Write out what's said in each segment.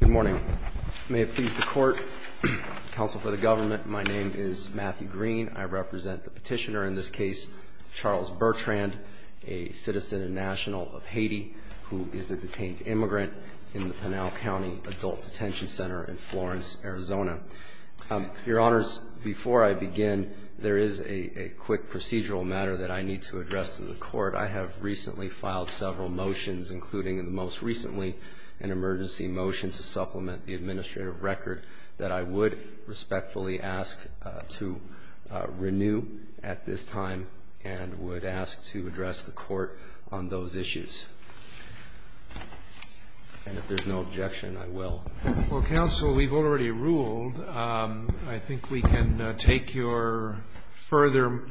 Good morning. May it please the court, counsel for the government, my name is Matthew Green. I represent the petitioner in this case, Charles Bertrand, a citizen and national of Haiti, who is a detained immigrant in the Pinal County Adult Detention Center in Florence, Arizona. Your honors, before I begin, there is a quick procedural matter that I need to address to the court. I have recently filed several motions, including most recently an emergency motion to supplement the administrative record that I would respectfully ask to renew at this time and would ask to address the court on those issues. And if there's no objection, I will. Roberts, I think we can take your further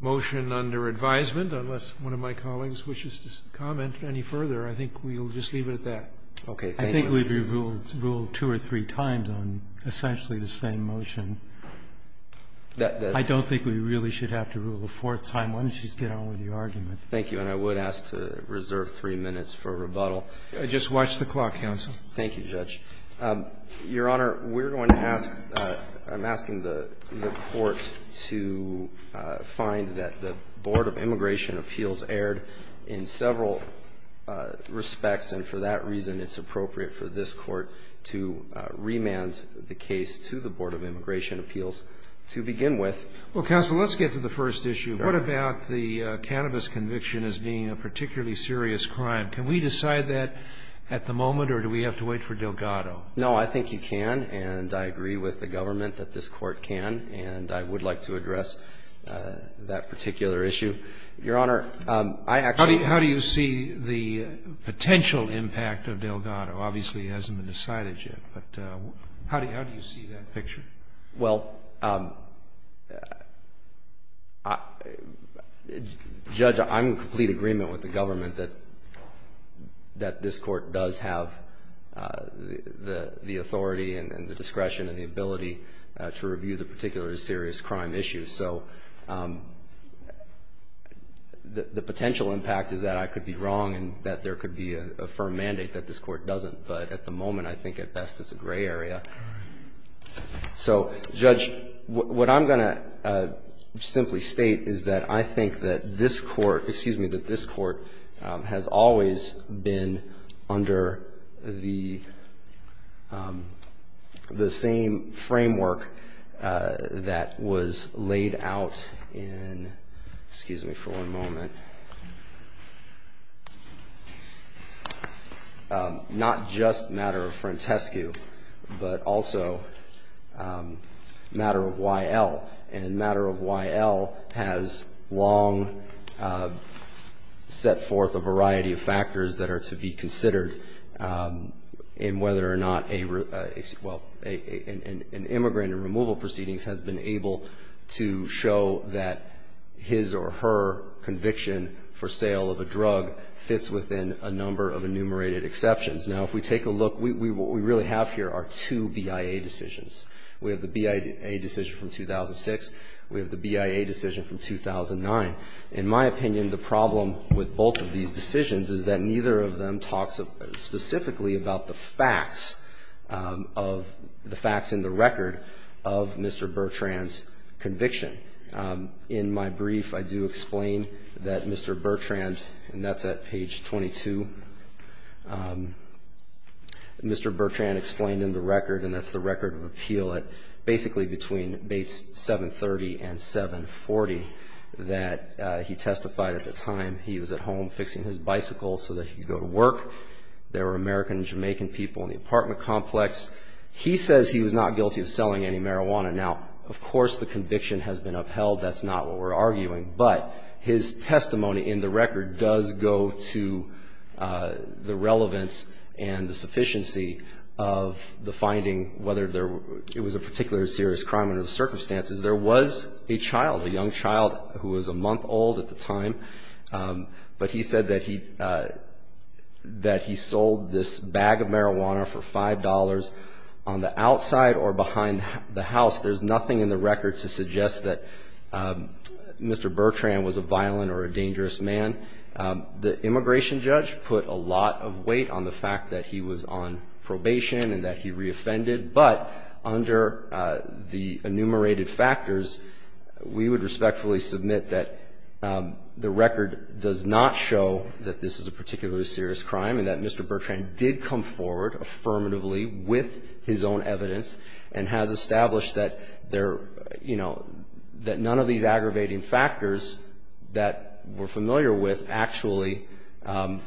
motion under advisement, unless one of my colleagues wishes to comment any further. I think we'll just leave it at that. I think we've ruled two or three times on essentially the same motion. I don't think we really should have to rule a fourth time. Why don't you just get on with your argument. Thank you, and I would ask to reserve three minutes for rebuttal. Just watch the clock, counsel. Thank you, Judge. Your Honor, we're going to ask, I'm asking the court to find that the Board of Immigration Appeals erred in several respects, and for that reason it's appropriate for this court to remand the case to the Board of Immigration Appeals to begin with. Well, counsel, let's get to the first issue. What about the cannabis conviction as being a particularly serious crime? Can we decide that at the moment, or do we have to wait for Delgado? No, I think you can, and I agree with the government that this court can, and I would like to address that particular issue. Your Honor, I actually How do you see the potential impact of Delgado? Obviously, it hasn't been decided yet, but how do you see that picture? Well, Judge, I'm in complete agreement with the government that this court does have the authority and the discretion and the ability to review the particularly serious crime issues, so the potential impact is that I could be wrong and that there could be a firm mandate that this court doesn't, but at the moment, I think at best it's a gray area. So, Judge, what I'm going to simply state is that I think that this court, excuse me, that this court has always been under the same framework that was laid out in, excuse me for one moment. Not just matter of Frantescu, but also matter of Y.L., and matter of Y.L. has long set forth a variety of factors that are to be considered in whether or not a, well, an immigrant in removal proceedings has been able to show that his or her conviction for sale of a drug fits within a number of enumerated exceptions. Now, if we take a look, what we really have here are two BIA decisions. We have the BIA decision from 2006, we have the BIA decision from 2009. In my opinion, the problem with both of these decisions is that neither of them talks specifically about the facts of, the facts in the record of Mr. Bertrand's conviction. In my brief, I do explain that Mr. Bertrand, and that's at page 22, Mr. Bertrand explained in the record, and that's the record of appeal at basically between Bates 730 and 740, that he testified at the time he was at home fixing his bicycle so that he could go to work. There were American and Jamaican people in the apartment complex. He says he was not guilty of selling any marijuana. Now, of course, the conviction has been upheld. That's not what we're arguing. But his testimony in the record does go to the relevance and the sufficiency of the finding, whether it was a particular serious crime under the circumstances. There was a child, a young child who was a month old at the time, but he said that he sold this bag of marijuana for $5 on the outside or behind the house. There's nothing in the record to suggest that Mr. Bertrand was a violent or a dangerous man. The immigration judge put a lot of weight on the fact that he was on probation and that he reoffended, but under the enumerated factors, we would respectfully submit that the record does not show that this is a particularly serious crime and that Mr. Bertrand did come forward affirmatively with his own evidence. And has established that they're, you know, that none of these aggravating factors that we're familiar with actually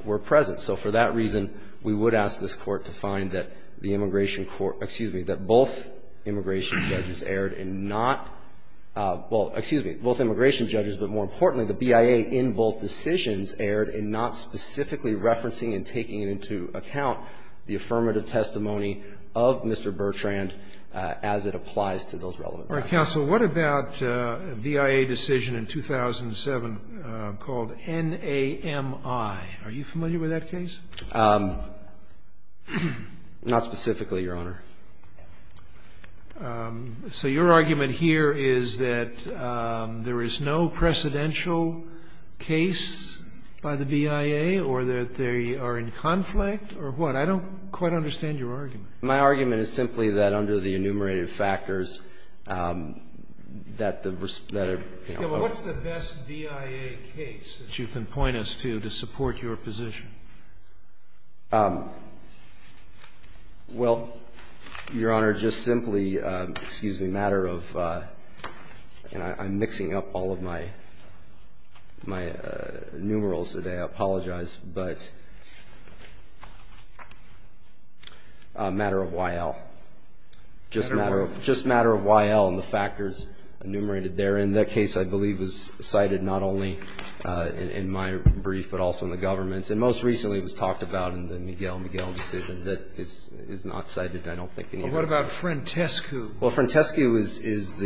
were present. So for that reason, we would ask this Court to find that the immigration court, excuse me, that both immigration judges erred in not, well, excuse me, both immigration judges, but more importantly, the BIA in both decisions erred in not specifically referencing and taking into account the affirmative testimony of Mr. Bertrand as it applies to those relevant factors. Roberts. What about a BIA decision in 2007 called NAMI? Are you familiar with that case? Not specifically, Your Honor. So your argument here is that there is no precedential case by the BIA or that they are in conflict or what? I don't quite understand your argument. My argument is simply that under the enumerated factors, that the responsibility of a BIA case that you can point us to, to support your position. Well, Your Honor, just simply, excuse me, a matter of and I'm mixing up all of my numerals today, I apologize, but a matter of Y.L. Just matter of Y.L. and the factors enumerated there. And that case, I believe, was cited not only in my brief, but also in the government's. And most recently it was talked about in the Miguel-Miguel decision that is not cited, I don't think, in either. Well, what about Frentescu? Well, Frentescu is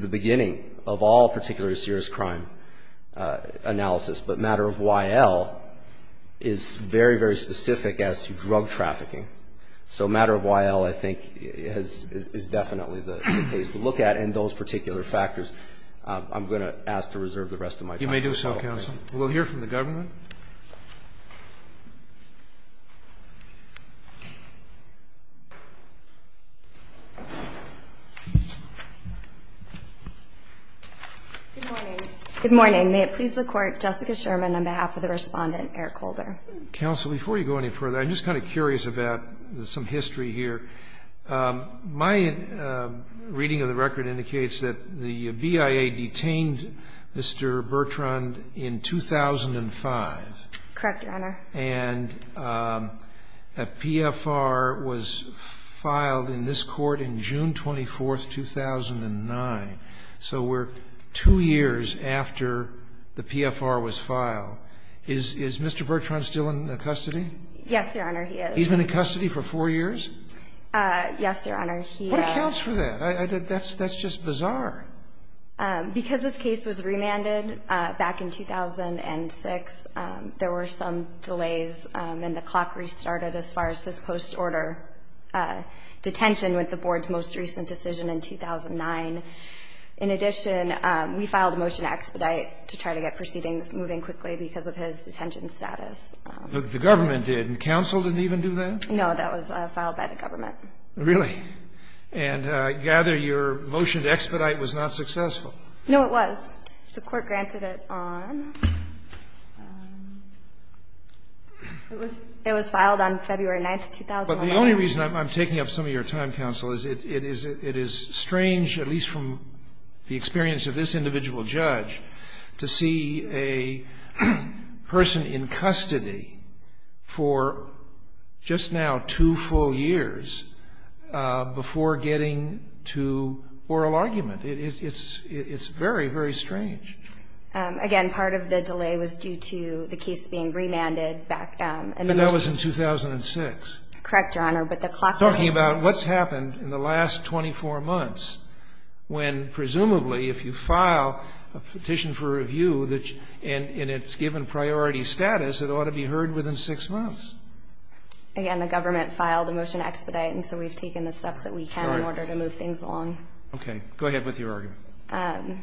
the beginning of all particularly serious crime analysis. But matter of Y.L. is very, very specific as to drug trafficking. So matter of Y.L., I think, is definitely the case to look at. And those particular factors, I'm going to ask to reserve the rest of my time. You may do so, counsel. We'll hear from the government. Good morning. May it please the Court, Jessica Sherman on behalf of the Respondent, Eric Holder. Counsel, before you go any further, I'm just kind of curious about some history here. My reading of the record indicates that the BIA detained Mr. Bertrand in 2005. Correct, Your Honor. And a PFR was filed in this Court in June 24, 2009. So we're two years after the PFR was filed. Is Mr. Bertrand still in custody? Yes, Your Honor, he is. He's been in custody for four years? Yes, Your Honor. What accounts for that? That's just bizarre. Because this case was remanded back in 2006, there were some delays, and the clock restarted as far as his post-order detention with the Board's most recent decision in 2009. In addition, we filed a motion to expedite to try to get proceedings moving quickly because of his detention status. The government did, and counsel didn't even do that? No, that was filed by the government. Really? And I gather your motion to expedite was not successful. No, it was. The Court granted it on, it was filed on February 9, 2009. But the only reason I'm taking up some of your time, counsel, is it is strange, at least from the experience of this individual judge, to see a person in custody for just now two full years before getting to oral argument. It's very, very strange. Again, part of the delay was due to the case being remanded back in the most recent year. But that was in 2006. Correct, Your Honor, but the clock was not. I'm talking about what's happened in the last 24 months when, presumably, if you file a petition for review, and it's given priority status, it ought to be heard within six months. Again, the government filed a motion to expedite, and so we've taken the steps that we can in order to move things along. Okay, go ahead with your argument.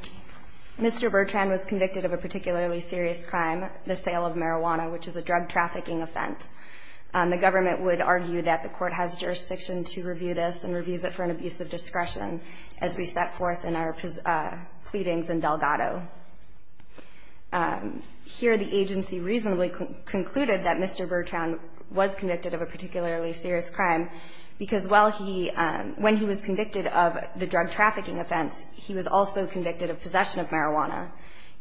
Mr. Bertrand was convicted of a particularly serious crime, the sale of marijuana, which is a drug trafficking offense. The government would argue that the court has jurisdiction to review this and reviews it for an abuse of discretion, as we set forth in our pleadings in Delgado. Here, the agency reasonably concluded that Mr. Bertrand was convicted of a particularly serious crime, because when he was convicted of the drug trafficking offense, he was also convicted of possession of marijuana.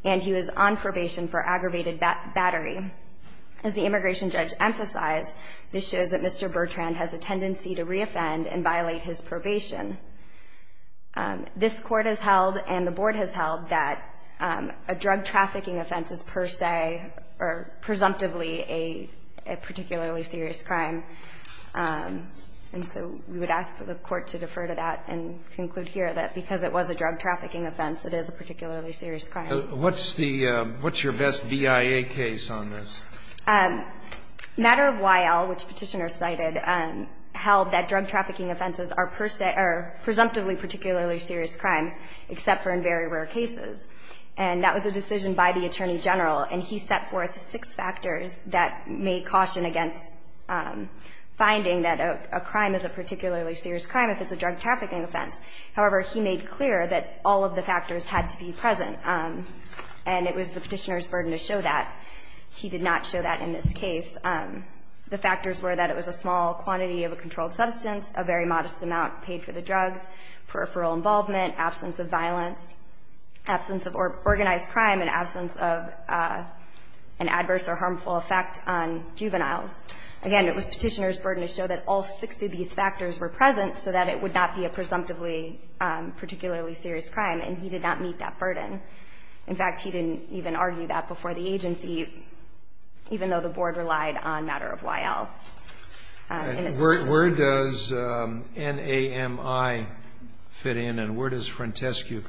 And he was on probation for aggravated battery. As the immigration judge emphasized, this shows that Mr. Bertrand has a tendency to re-offend and violate his probation. This court has held, and the board has held, that a drug trafficking offense is per se, or presumptively, a particularly serious crime. And so we would ask the court to defer to that and conclude here that because it was a drug trafficking offense, it is a particularly serious crime. What's the – what's your best BIA case on this? Matter of W.I.L., which Petitioner cited, held that drug trafficking offenses are per se, or presumptively particularly serious crimes, except for in very rare cases. And that was a decision by the Attorney General, and he set forth six factors that made caution against finding that a crime is a particularly serious crime if it's a drug trafficking offense. However, he made clear that all of the factors had to be present. And it was the Petitioner's burden to show that. He did not show that in this case. The factors were that it was a small quantity of a controlled substance, a very modest amount paid for the drugs, peripheral involvement, absence of violence, absence of organized crime, and absence of an adverse or harmful effect on juveniles. Again, it was Petitioner's burden to show that all 60 of these factors were present so that it would not be a presumptively particularly serious crime, and he did not meet that burden. In fact, he didn't even argue that before the agency, even though the Board relied on Matter of W.I.L. And it's the same. And where does NAMI fit in, and where does Frantescu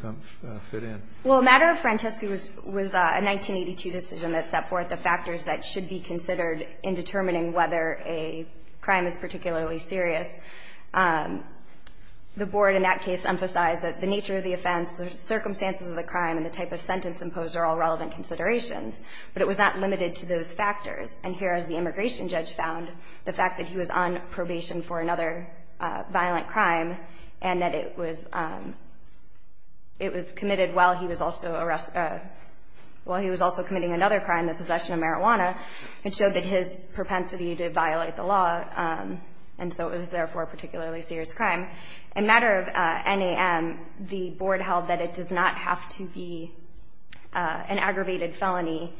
fit in? Well, Matter of Frantescu was a 1982 decision that set forth the factors that should be considered in determining whether a crime is particularly serious. The Board in that case emphasized that the nature of the offense, the circumstances of the crime, and the type of sentence imposed are all relevant considerations, but it was not limited to those factors. And here, as the immigration judge found, the fact that he was on probation for another violent crime and that it was committed while he was also committing another crime, the possession of marijuana, it showed that his propensity to violate the law. And so it was, therefore, a particularly serious crime. In Matter of NAM, the Board held that it does not have to be an aggravated felony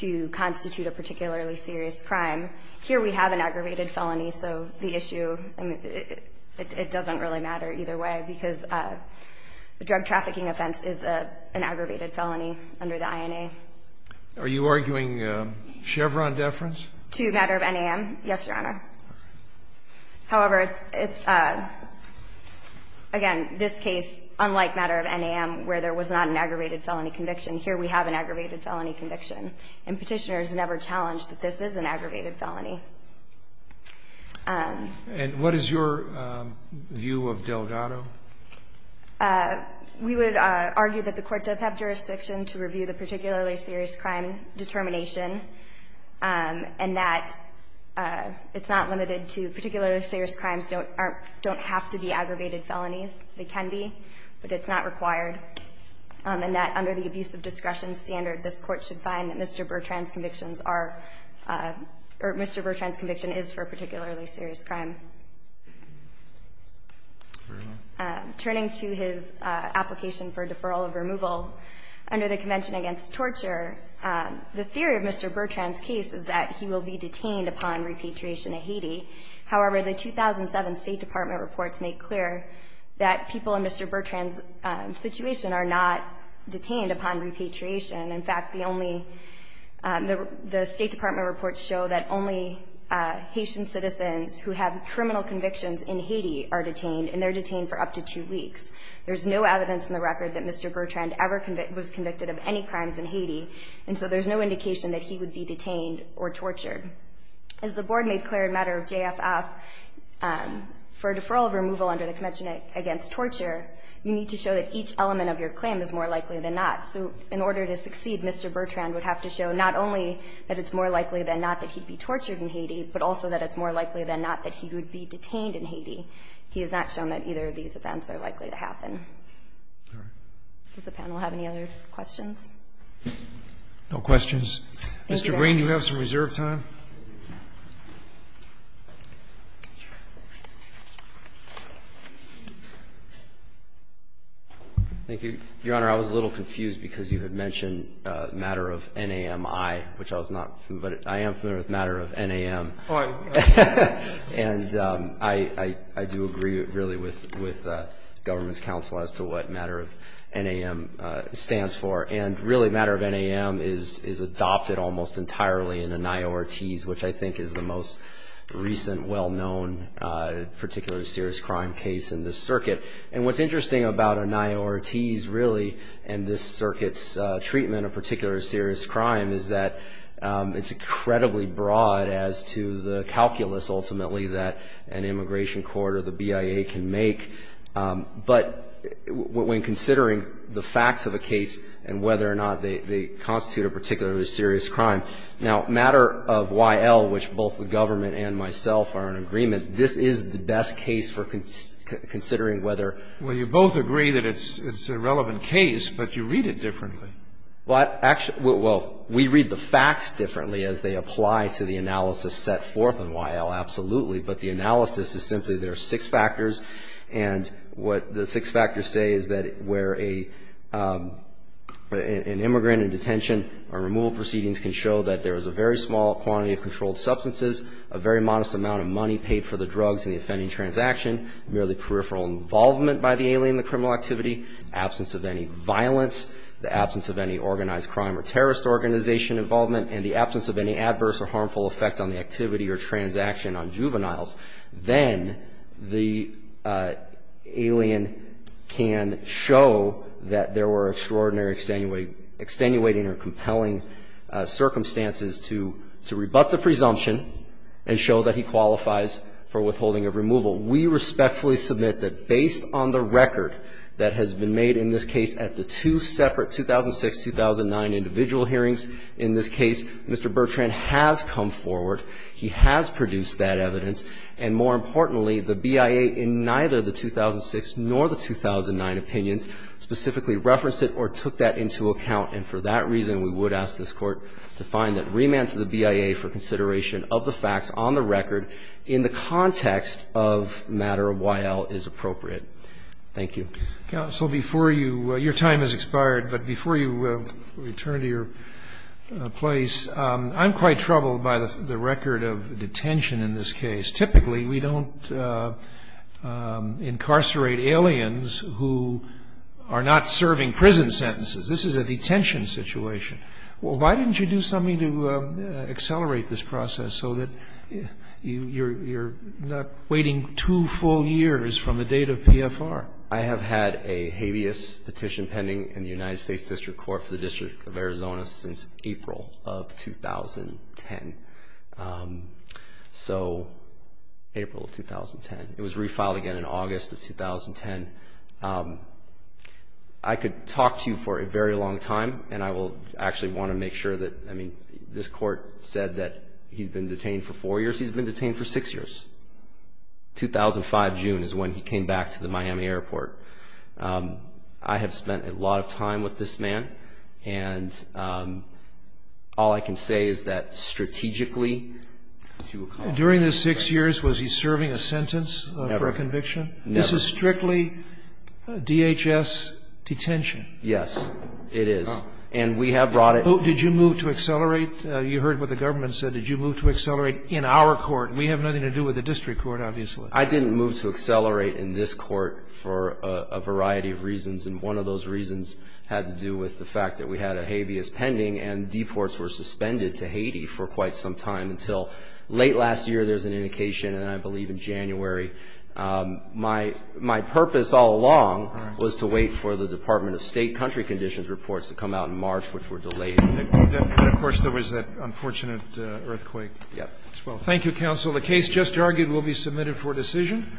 to constitute a particularly serious crime. Here we have an aggravated felony, so the issue, I mean, it doesn't really matter either way, because a drug trafficking offense is an aggravated felony under the INA. Are you arguing Chevron deference? To Matter of NAM, yes, Your Honor. However, it's, again, this case, unlike Matter of NAM, where there was not an aggravated felony conviction, here we have an aggravated felony conviction. And Petitioners never challenged that this is an aggravated felony. And what is your view of Delgado? We would argue that the Court does have jurisdiction to review the particularly serious crime determination. And that it's not limited to particularly serious crimes don't have to be aggravated felonies. They can be, but it's not required. And that under the abuse of discretion standard, this Court should find that Mr. Bertrand's conviction is for a particularly serious crime. Under the Convention Against Torture, the theory of Mr. Bertrand's case is that he will be detained upon repatriation to Haiti. However, the 2007 State Department reports make clear that people in Mr. Bertrand's situation are not detained upon repatriation. In fact, the State Department reports show that only Haitian citizens who have criminal convictions in Haiti are detained, and they're detained for up to two weeks. There's no evidence in the record that Mr. Bertrand ever was convicted of any crimes in Haiti. And so there's no indication that he would be detained or tortured. As the Board made clear in matter of JFF, for a deferral of removal under the Convention Against Torture, you need to show that each element of your claim is more likely than not. So in order to succeed, Mr. Bertrand would have to show not only that it's more likely than not that he'd be tortured in Haiti, but also that it's more likely than not that he would be detained in Haiti. He has not shown that either of these events are likely to happen. Does the panel have any other questions? No questions. Mr. Green, you have some reserved time. Thank you, Your Honor. I was a little confused because you had mentioned the matter of NAMI, which I was not familiar with. I am familiar with matter of NAM. And I do agree, really, with the government's counsel as to what matter of NAM stands for. And really, matter of NAM is adopted almost entirely in ANIORTES, which I think is the most recent well-known particularly serious crime case in this circuit. And what's interesting about ANIORTES, really, and this circuit's treatment of particularly serious crime, is that it's incredibly broad as to the calculus, ultimately, that an immigration court or the BIA can make. But when considering the facts of a case and whether or not they constitute a particularly serious crime. Now, matter of YL, which both the government and myself are in agreement, this is the best case for considering whether — Well, you both agree that it's a relevant case, but you read it differently. Well, actually — well, we read the facts differently as they apply to the analysis set forth in YL, absolutely. But the analysis is simply there are six factors. And what the six factors say is that where an immigrant in detention or removal proceedings can show that there is a very small quantity of controlled substances, a very modest amount of money paid for the drugs in the offending transaction, merely peripheral involvement by the alien in the criminal activity, absence of any violence, the absence of any organized crime or terrorist organization involvement, and the absence of any adverse or harmful effect on the activity or transaction on juveniles, then the alien can show that there were extraordinary, extenuating, or compelling circumstances to rebut the presumption and show that he qualifies for withholding of removal. We respectfully submit that based on the record that has been made in this case at the two separate 2006-2009 individual hearings in this case, Mr. Bertrand has come forward, he has produced that evidence, and more importantly, the BIA in neither the 2006 nor the 2009 opinions specifically referenced it or took that into account. And for that reason, we would ask this Court to find that remand to the BIA for consideration of the facts on the record in the context of matter of Y.L. is appropriate. Thank you. Counsel, before you – your time has expired, but before you return to your place, I'm quite troubled by the record of detention in this case. Typically, we don't incarcerate aliens who are not serving prison sentences. This is a detention situation. Why didn't you do something to accelerate this process so that you're not waiting two full years from the date of PFR? I have had a habeas petition pending in the United States District Court for the District of Arizona since April of 2010. So April of 2010. It was refiled again in August of 2010. I could talk to you for a very long time, and I will actually want to make sure that – I mean, this Court said that he's been detained for four years. He's been detained for six years. 2005, June, is when he came back to the Miami airport. I have spent a lot of time with this man, and all I can say is that strategically – During the six years, was he serving a sentence for a conviction? Never. This is strictly DHS detention? Yes, it is. And we have brought it – Did you move to accelerate? You heard what the government said. Did you move to accelerate in our court? We have nothing to do with the District Court, obviously. I didn't move to accelerate in this court for a variety of reasons. And one of those reasons had to do with the fact that we had a habeas pending, and deports were suspended to Haiti for quite some time until late last year. There's an indication, and I believe in January. My purpose all along was to wait for the Department of State country conditions reports to come out in March, which were delayed. And, of course, there was that unfortunate earthquake as well. Thank you, counsel. The case just argued will be submitted for decision.